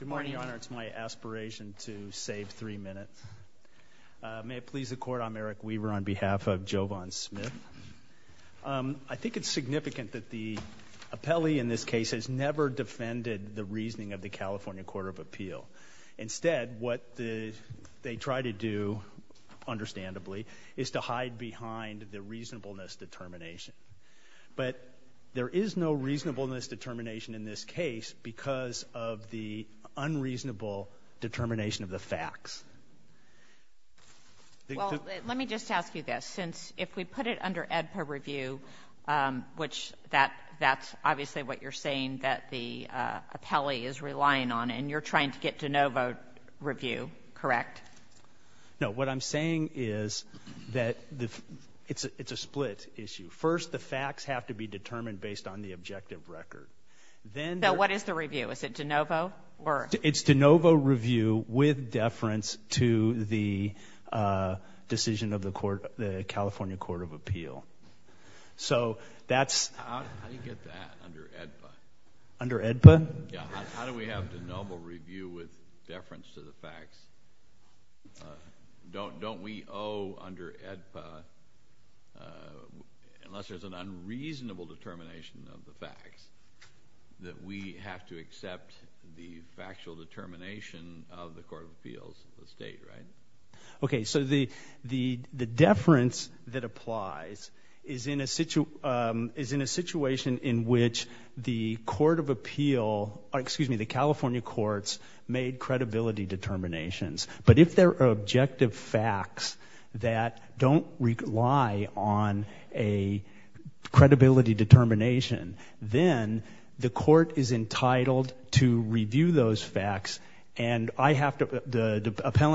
Good morning, Your Honor. It's my aspiration to save three minutes. May it please the Court, I'm Eric Weaver on behalf of Jovan'z Smith. I think it's significant that the appellee in this case has never defended the reasoning of the California Court of Appeal. Instead, what they try to do, understandably, is to hide behind the reasonableness determination. But there is no of the unreasonable determination of the facts. Well, let me just ask you this. Since, if we put it under ADPA review, which that that's obviously what you're saying that the appellee is relying on, and you're trying to get de novo review, correct? No, what I'm saying is that the it's a it's a split issue. First, the facts have to be determined based on the objective record. Then, what is the de novo? It's de novo review with deference to the decision of the Court, the California Court of Appeal. So, that's... How do you get that under ADPA? Under ADPA? Yeah, how do we have de novo review with deference to the facts? Don't we owe under ADPA, unless there's an factual determination of the Court of Appeals, the state, right? Okay, so the deference that applies is in a situation in which the Court of Appeal, excuse me, the California courts made credibility determinations. But, if there are objective facts that don't rely on a credibility determination, then the appellant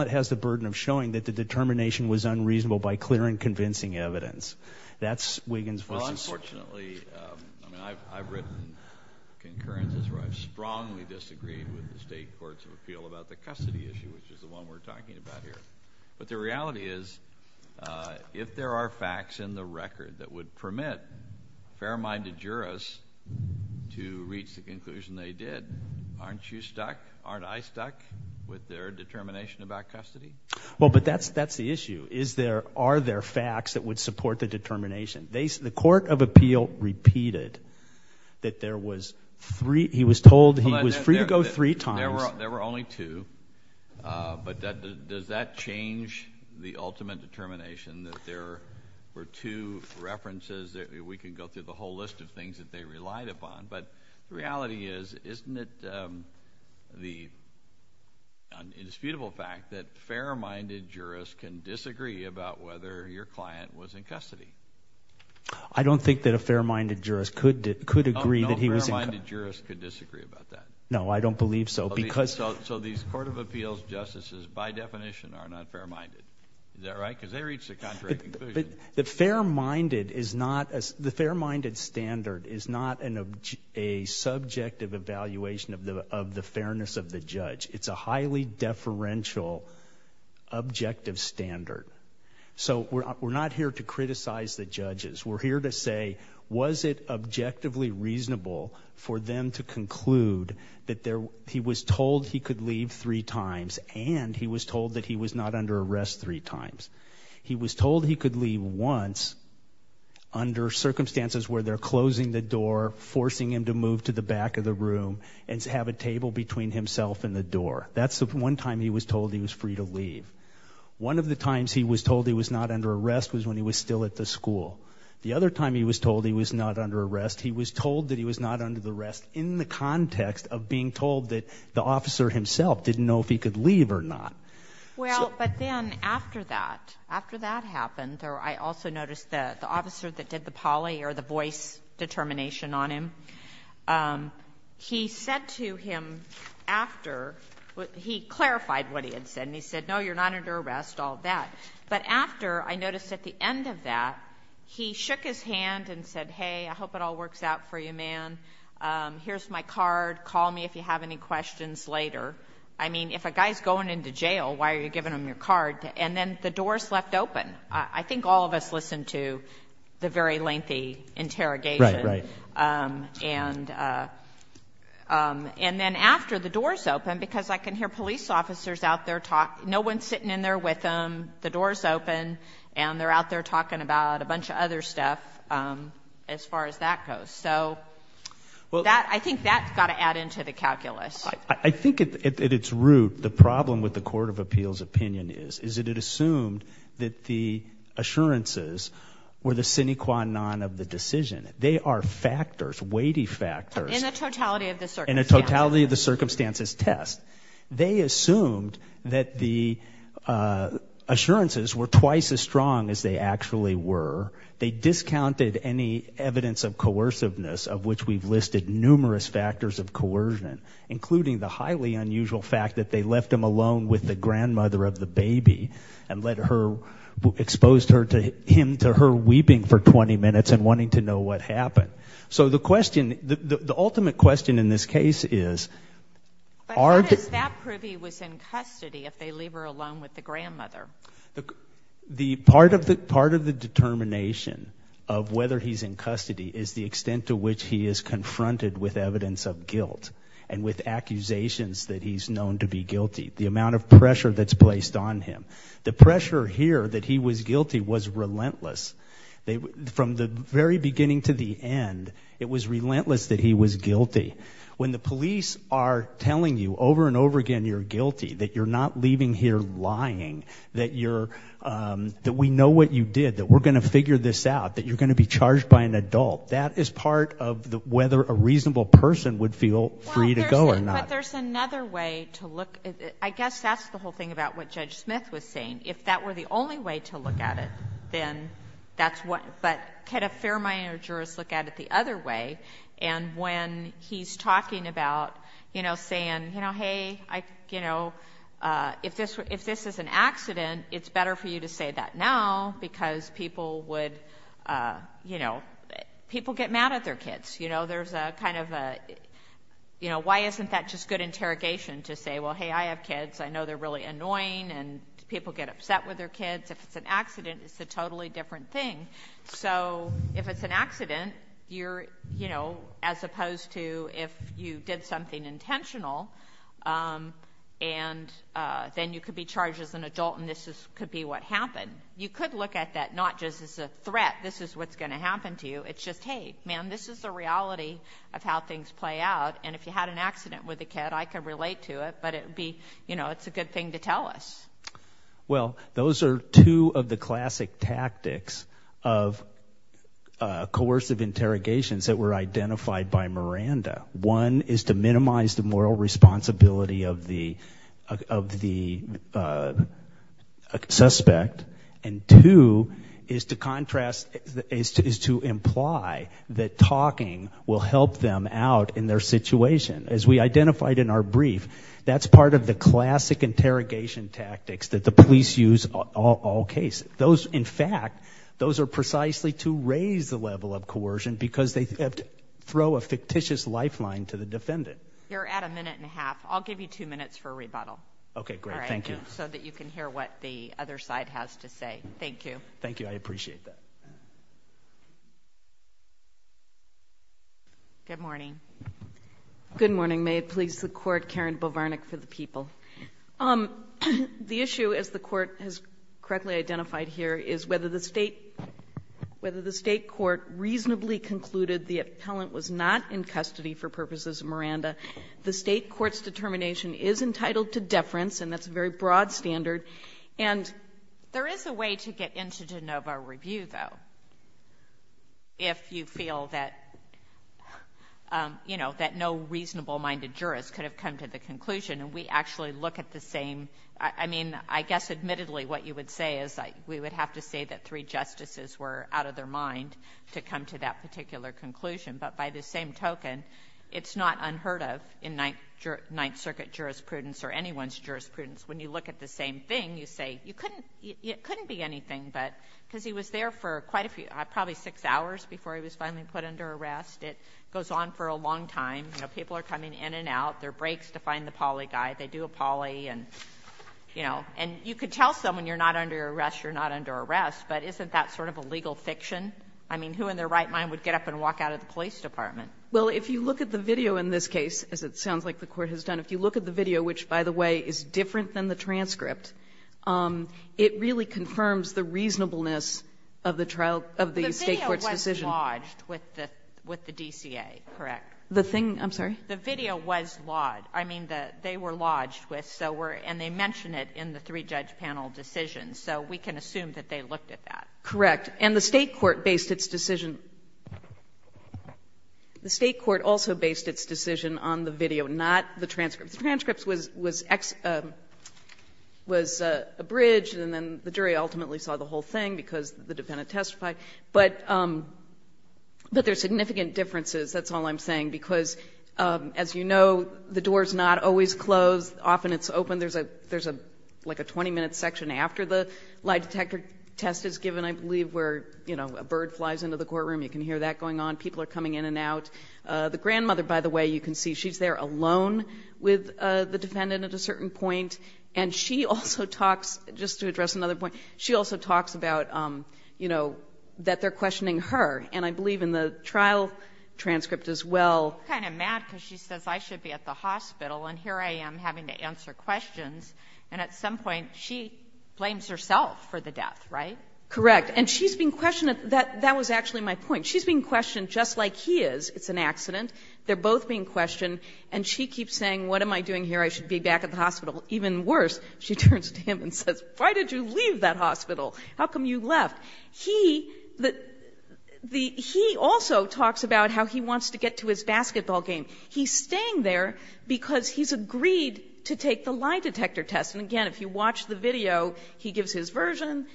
has the burden of showing that the determination was unreasonable by clear and convincing evidence. That's Wiggins versus... Unfortunately, I've written concurrences where I've strongly disagreed with the state courts of appeal about the custody issue, which is the one we're talking about here. But, the reality is, if there are facts in the record that would permit fair-minded jurors to reach the conclusion they did, aren't you stuck? Aren't I stuck with their determination about custody? Well, but that's that's the issue. Is there... Are there facts that would support the determination? They... The Court of Appeal repeated that there was three... He was told he was free to go three times. There were only two, but does that change the ultimate determination that there were two references that we can go through the whole list of things that they relied upon? But, the reality is, isn't it the indisputable fact that fair-minded jurors can disagree about whether your client was in custody? I don't think that a fair-minded juror could agree that he was... Oh, no, fair-minded jurors could disagree about that. So, these Court of Appeals justices, by definition, are not fair-minded. Is that right? Because they reached the contrary conclusion. The fair-minded is not... The fair-minded standard is not a subjective evaluation of the fairness of the judge. It's a highly deferential, objective standard. So, we're not here to criticize the judges. We're here to say, was it objectively reasonable for them to conclude that he was told he could leave three times and he was told that he was not under arrest three times? He was told he could leave once under circumstances where they're closing the door, forcing him to move to the back of the room and to have a table between himself and the door. That's the one time he was told he was free to leave. One of the times he was told he was not under arrest was when he was still at the school. The other time he was told he was not under arrest, he was told that he was not under arrest in the context of being told that the officer himself didn't know if he could leave or not. Well, but then after that, after that happened, I also noticed the officer that did the poly or the voice determination on him, he said to him after, he clarified what he had said, and he said, no, you're not under arrest, all that. But after, I noticed at the end of that, he shook his hand and said, hey, I hope it all works out for you, man. Here's my card, call me if you have any questions later. I mean, if a guy's going into jail, why are you giving him your card? And then the doors left open. I think all of us listened to the very lengthy interrogation. Right, right. And, and then after the doors opened, because I can hear police officers out there talking, no one's sitting in there with them, the doors open, and they're out there talking about a bunch of other stuff as far as that goes. So I think that's got to add into the calculus. I think at its root, the problem with the Court of Appeals opinion is, is that it assumed that the assurances were the sine qua non of the decision. They are factors, weighty factors. In the totality of the circumstances. In the totality of the circumstances test. They assumed that the assurances were twice as strong as they actually were. They discounted any evidence of coerciveness of which we've listed numerous factors of coercion, including the highly unusual fact that they left him alone with the grandmother of the baby and let her, exposed her to him, to her weeping for 20 minutes and wanting to know what happened. So the question, the, the, the ultimate question in this case is. But how does that prove he was in custody if they leave her alone with the grandmother? The part of the determination of whether he's in custody is the extent to which he is confronted with evidence of guilt and with accusations that he's known to be guilty. The amount of pressure that's placed on him. The pressure here that he was guilty was relentless. From the very beginning to the end, it was relentless that he was guilty. When the police are telling you over and over again you're guilty, that you're not leaving here lying, that you're, that we know what you did, that we're going to figure this out, that you're going to be charged by an adult. That is part of the, whether a reasonable person would feel free to go or not. But there's another way to look, I guess that's the whole thing about what Judge Smith was saying. If that were the only way to look at it, then that's what, but could a fair minor jurist look at it the other way? And when he's talking about, you know, saying, you know, hey, I, you know, if this, if this is an accident, it's better for you to say that now because people would, you know, people get mad at their kids. You know, there's a kind of a, you know, why isn't that just good interrogation to say, well, hey, I have kids. I know they're really annoying and people get upset with their kids. If it's an accident, it's a totally different thing. So if it's an accident, you're, you know, as opposed to if you did something intentional and then you could be charged as an adult and this is, could be what happened. You could look at that not just as a threat, this is what's going to happen to you. It's just, hey, man, this is the reality of how things play out. And if you had an accident with a kid, I could relate to it, but it would be, you know, it's a good thing to tell us. Well, those are two of the classic tactics of coercive interrogations that were identified by Miranda. One is to minimize the moral responsibility of the suspect. And two is to contrast, is to imply that talking will help them out in their situation. As we identified in our brief, that's part of the classic interrogation tactics that the police use all cases. Those, in fact, those are precisely to raise the level of coercion because they have to throw a fictitious lifeline to the defendant. You're at a minute and a half. I'll give you two minutes for a rebuttal. Okay, great. Thank you. So that you can hear what the other side has to say. Thank you. Thank you. I appreciate that. Good morning. Good morning. May it please the court, Karen Bovarnik for the people. The issue, as the state, whether the state court reasonably concluded the appellant was not in custody for purposes of Miranda. The state court's determination is entitled to deference, and that's a very broad standard. And there is a way to get into de novo review, though, if you feel that, you know, that no reasonable-minded jurist could have come to the conclusion. And we actually look at the same, I mean, I guess admittedly what you would say is we would have to say that three justices were out of their mind to come to that particular conclusion. But by the same token, it's not unheard of in Ninth Circuit jurisprudence or anyone's jurisprudence. When you look at the same thing, you say, it couldn't be anything but because he was there for quite a few, probably six hours before he was finally put under arrest. It goes on for a long time. You know, people are coming in and out. There are breaks to find the poly guy. They do a poly and, you know, and you could tell someone you're not under arrest, you're not under arrest. But isn't that sort of a legal fiction? I mean, who in their right mind would get up and walk out of the police department? Well, if you look at the video in this case, as it sounds like the Court has done, if you look at the video, which, by the way, is different than the transcript, it really confirms the reasonableness of the trial, of the state court's decision. The video was lodged with the DCA, correct? The thing, I'm sorry? The video was lodged. I mean, they were lodged with, and they mention it in the three-judge panel decision, so we can assume that they looked at that. Correct. And the state court based its decision, the state court also based its decision on the video, not the transcript. The transcript was abridged, and then the jury ultimately saw the whole thing because the defendant testified. But there are significant differences, that's all I'm saying, because, as you know, the door's not always closed. Often it's open. There's like a 20-minute section after the lie detector test is given, I believe, where a bird flies into the courtroom. You can hear that going on. People are coming in and out. The grandmother, by the way, you can see, she's there alone with the defendant at a certain point. And she also talks, just to address another point, she also talks about that they're questioning her. And I believe in the trial transcript as well. I'm kind of mad because she says I should be at the hospital, and here I am having to make decisions, and at some point she blames herself for the death, right? Correct. And she's being questioned. That was actually my point. She's being questioned just like he is. It's an accident. They're both being questioned. And she keeps saying, what am I doing here? I should be back at the hospital. Even worse, she turns to him and says, why did you leave that hospital? How come you left? He also talks about how he wants to get to his basketball game. He's staying there because he's agreed to take the lie detector test. And again, if you watch the video, he gives his version.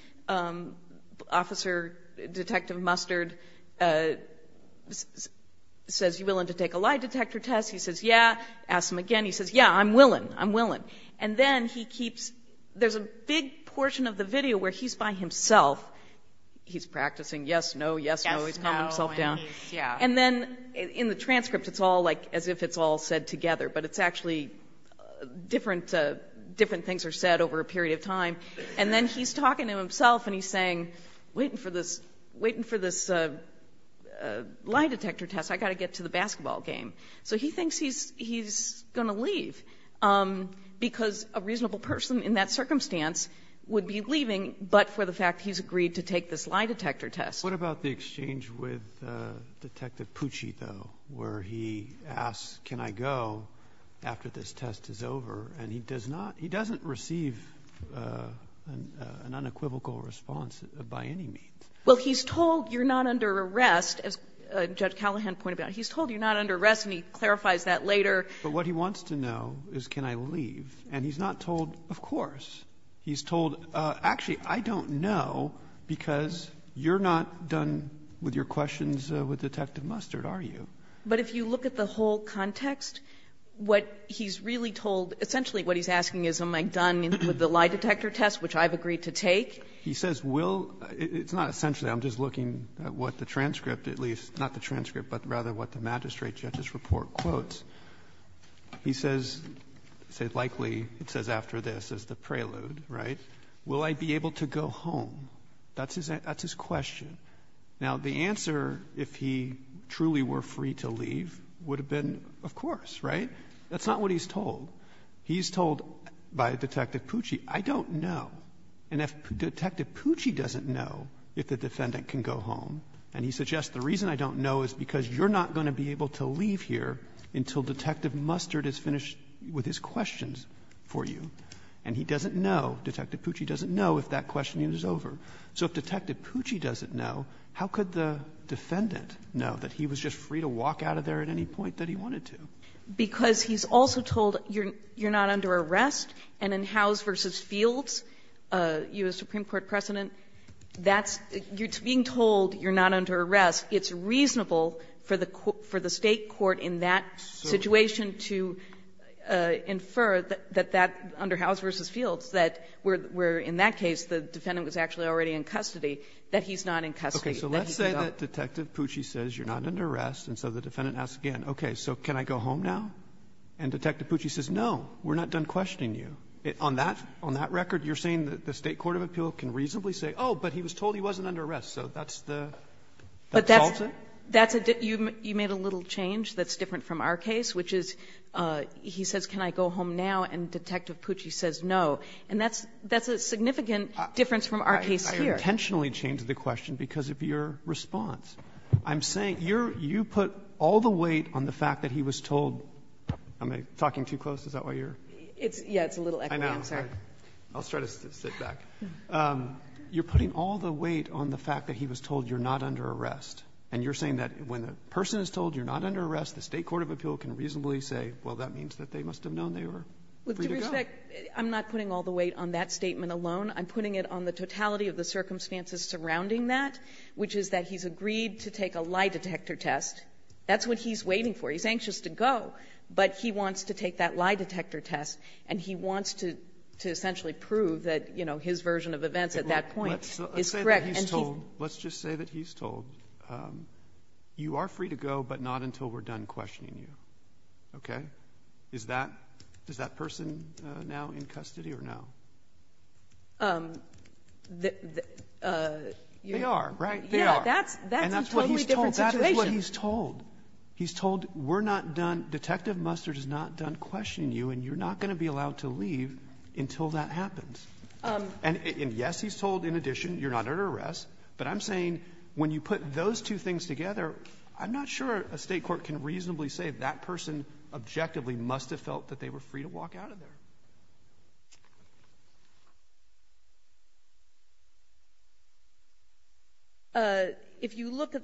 Officer Detective Mustard says, you willing to take a lie detector test? He says, yeah. Asks him again. He says, yeah, I'm willing. I'm willing. And then he keeps, there's a big portion of the video where he's by himself. He's practicing yes, no, yes, no. He's calming himself down. And then in the transcript, it's all like as if it's all said together. But it's actually different. Different things are said over a period of time. And then he's talking to himself and he's saying, waiting for this, waiting for this lie detector test, I got to get to the basketball game. So he thinks he's going to leave because a reasonable person in that circumstance would be leaving. But for the fact he's agreed to take this lie detector test. What about the exchange with Detective Pucci, though, where he asks, can I go after this test is over? And he doesn't receive an unequivocal response by any means. Well, he's told you're not under arrest, as Judge Callahan pointed out. He's told you're not under arrest and he clarifies that later. But what he wants to know is, can I leave? And he's not told, of course. He's told, actually, I don't know because you're not done with your questions with Detective Mustard, are you? But if you look at the whole context, what he's really told, essentially what he's asking is, am I done with the lie detector test, which I've agreed to take? He says, will, it's not essentially, I'm just looking at what the transcript, at least, not the transcript, but rather what the magistrate judge's report quotes. He says, likely, it says after this is the prelude, right? Will I be able to go home? That's his question. Now, the answer, if he truly were free to leave, would have been, of course, right? That's not what he's told. He's told by Detective Pucci, I don't know. And if Detective Pucci doesn't know if the defendant can go home, and he suggests the reason I don't know is because you're not going to be able to leave here until Detective Mustard is finished with his questions for you, and he doesn't know, Detective Pucci doesn't know if that question is over. So if Detective Pucci doesn't know, how could the defendant know that he was just free to walk out of there at any point that he wanted to? Because he's also told you're not under arrest, and in Howes v. Fields, U.S. Supreme Court precedent, that's, you're being told you're not under arrest. It's reasonable for the State Court in that situation to infer that that, under Howes v. Fields, that where in that case, the defendant was actually already in custody, that he's not in custody. Okay, so let's say that Detective Pucci says you're not under arrest, and so the defendant asks again, okay, so can I go home now? And Detective Pucci says, no, we're not done questioning you. On that record, you're saying that the State Court of Appeal can reasonably say, oh, but he was told he wasn't under arrest, so that's the policy? That's a, you made a little change that's different from our case, which is, he says, can I go home now? And Detective Pucci says, no. And that's, that's a significant difference from our case here. I intentionally changed the question because of your response. I'm saying, you're, you put all the weight on the fact that he was told, am I talking too close? Is that why you're? It's, yeah, it's a little echoey, I'm sorry. I know, I'll try to sit back. You're putting all the weight on the fact that he was told you're not under arrest, and you're saying that when a person is told you're not under arrest, the State Court of Appeal can reasonably say, well, that means that they must have known they were free to go. With due respect, I'm not putting all the weight on that statement alone. I'm putting it on the totality of the circumstances surrounding that, which is that he's agreed to take a lie detector test. That's what he's waiting for. He's anxious to go, but he wants to take that lie detector test, and he wants to, to essentially prove that, you know, his version of events at that point is correct. Let's say that he's told, let's just say that he's told, you are free to go, but not until we're done questioning you. Okay? Is that, is that person now in custody or no? Um, the, the, uh. They are, right? They are. Yeah, that's, that's a totally different situation. And that's what he's told. That is what he's told. He's told, we're not done, Detective Mustard is not done questioning you, and you're not going to be allowed to leave until that happens. And, and yes, he's told, in addition, you're not under arrest, but I'm saying, when you put those two things together, I'm not sure a state court can reasonably say that person objectively must have felt that they were free to walk out of there. Uh, if you look at,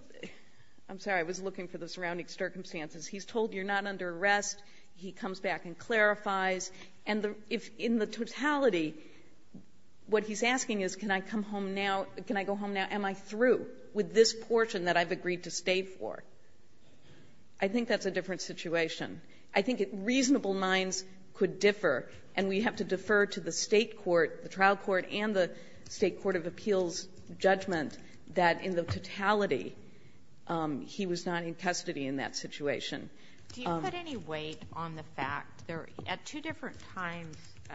I'm sorry, I was looking for the surrounding circumstances. He's told you're not under arrest. He comes back and clarifies. And the, if, in the totality, what he's asking is, can I come home now, can I go home now? Am I through with this portion that I've agreed to stay for? I think that's a different situation. I think reasonable minds could differ, and we have to defer to the state court, the trial court, and the state court of appeals judgment, that in the totality, um, he was not in custody in that situation. Do you put any weight on the fact that, at two different times, uh,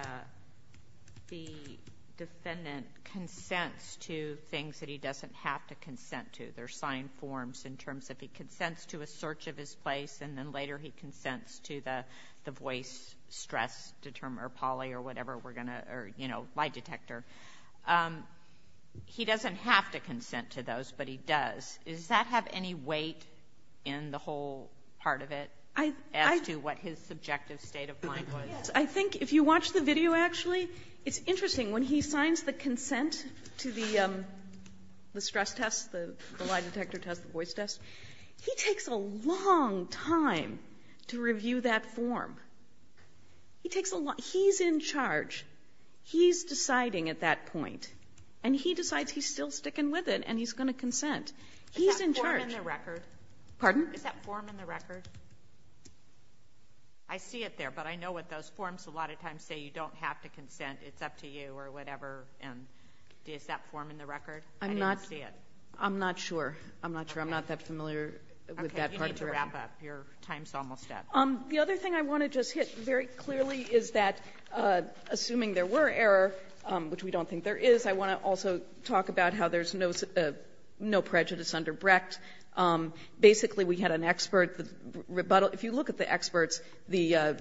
the defendant consents to things that he doesn't have to consent to? There's signed forms in terms of, he consents to a search of his place, and then later he consents to the, the voice stress, or poly, or whatever we're going to, or, you know, lie detector. Um, he doesn't have to consent to those, but he does. Does that have any weight in the whole part of it, as to what his subjective state of mind was? I think, if you watch the video, actually, it's interesting. When he signs the consent to the, um, the stress test, the lie detector test, the voice test, he takes a long time to review that form. He takes a long, he's in charge. He's deciding at that point. And he decides he's still sticking with it, and he's going to consent. He's in charge. Is that form in the record? Pardon? Is that form in the record? I see it there, but I know what those forms, a lot of times, say you don't have to consent, it's up to you, or whatever, and is that form in the record? I'm not, I'm not sure. I'm not sure. I'm not that familiar with that part of the record. Okay. You need to wrap up. Your time's almost up. Um, the other thing I want to just hit very clearly is that, uh, assuming there were error, um, which we don't think there is, I want to also talk about how there's no, uh, no prejudice under Brecht. Um, basically, we had an expert, the rebuttal, if you look at the experts, the, uh,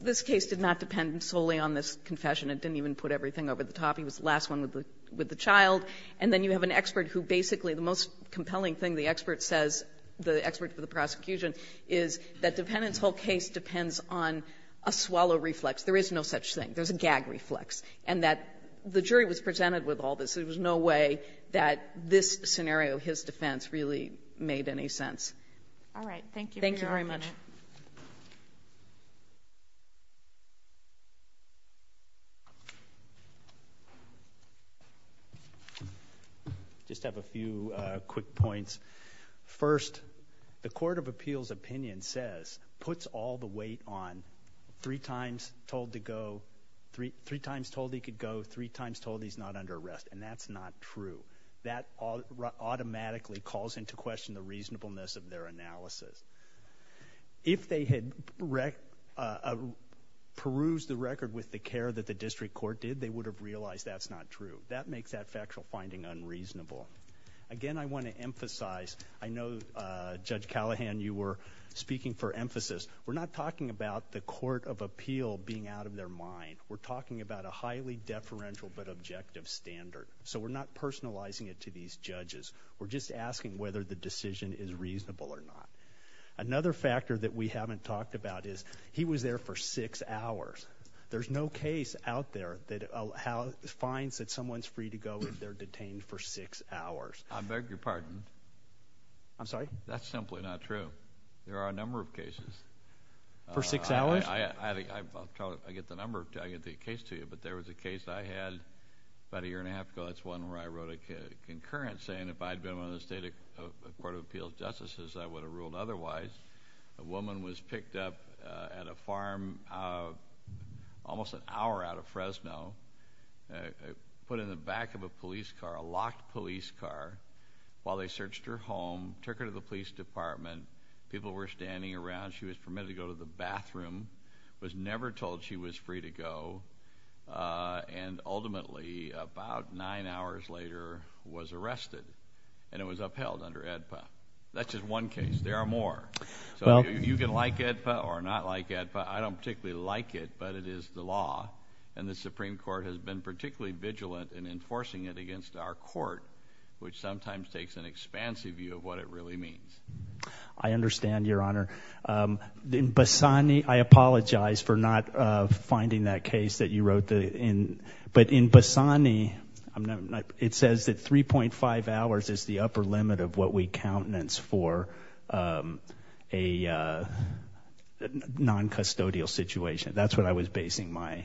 this case did not depend solely on this confession. It didn't even put everything over the top. He was the last one with the, with the child. And then you have an expert who basically, the most compelling thing the expert says, the expert for the prosecution, is that the defendant's whole case depends on a swallow reflex. There is no such thing. There's a gag reflex. And that, the jury was presented with all this. There was no way that this scenario, his defense, really made any sense. All right. Thank you. Thank you very much. Just have a few, uh, quick points. First, the Court of Appeals opinion says, puts all the weight on three times told to go, three, three times told he could go, three times told he's not under arrest. And that's not true. That automatically calls into question the reasonableness of their analysis. If they had wrecked, uh, perused the record with the care that the district court did, they would have realized that's not true. That makes that factual finding unreasonable. Again, I want to emphasize, I know, uh, Judge Callahan, you were speaking for emphasis. We're not talking about the Court of Appeal being out of their mind. We're talking about a highly deferential but objective standard. So we're not personalizing it to these judges. We're just asking whether the decision is reasonable or not. Another factor that we haven't talked about is, he was there for six hours. There's no case out there that, uh, how, finds that someone's free to go if they're detained for six hours. I beg your pardon? I'm sorry? That's simply not true. There are a number of cases. For six hours? I, I, I, I, I'll tell you, I get the number, I get the case to you, but there was a case I had about a year and a half ago, that's one where I wrote a concurrence saying if I'd been one of the state, uh, Court of Appeal justices, I would have ruled otherwise. A woman was picked up, uh, at a farm, uh, almost an hour out of Fresno, uh, put in the back of a police car, a locked police car, while they searched her home, took her to the police department, people were standing around, she was permitted to go to the bathroom, was never told she was free to go, uh, and ultimately, about nine hours later, was arrested, and it was upheld under AEDPA. That's just one case, there are more. Well So you can like AEDPA or not like AEDPA, I don't particularly like it, but it is the our court, which sometimes takes an expansive view of what it really means. I understand, Your Honor. Um, in Bassani, I apologize for not, uh, finding that case that you wrote the, in, but in Bassani, I'm not, it says that 3.5 hours is the upper limit of what we countenance for, um, a, uh, non-custodial situation. That's what I was basing my,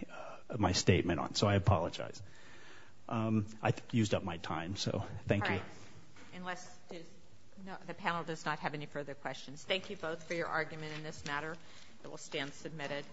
uh, my statement on, so I apologize. Um, I used up my time, so thank you. All right. Unless, did, no, the panel does not have any further questions. Thank you both for your argument in this matter. It will stand submitted.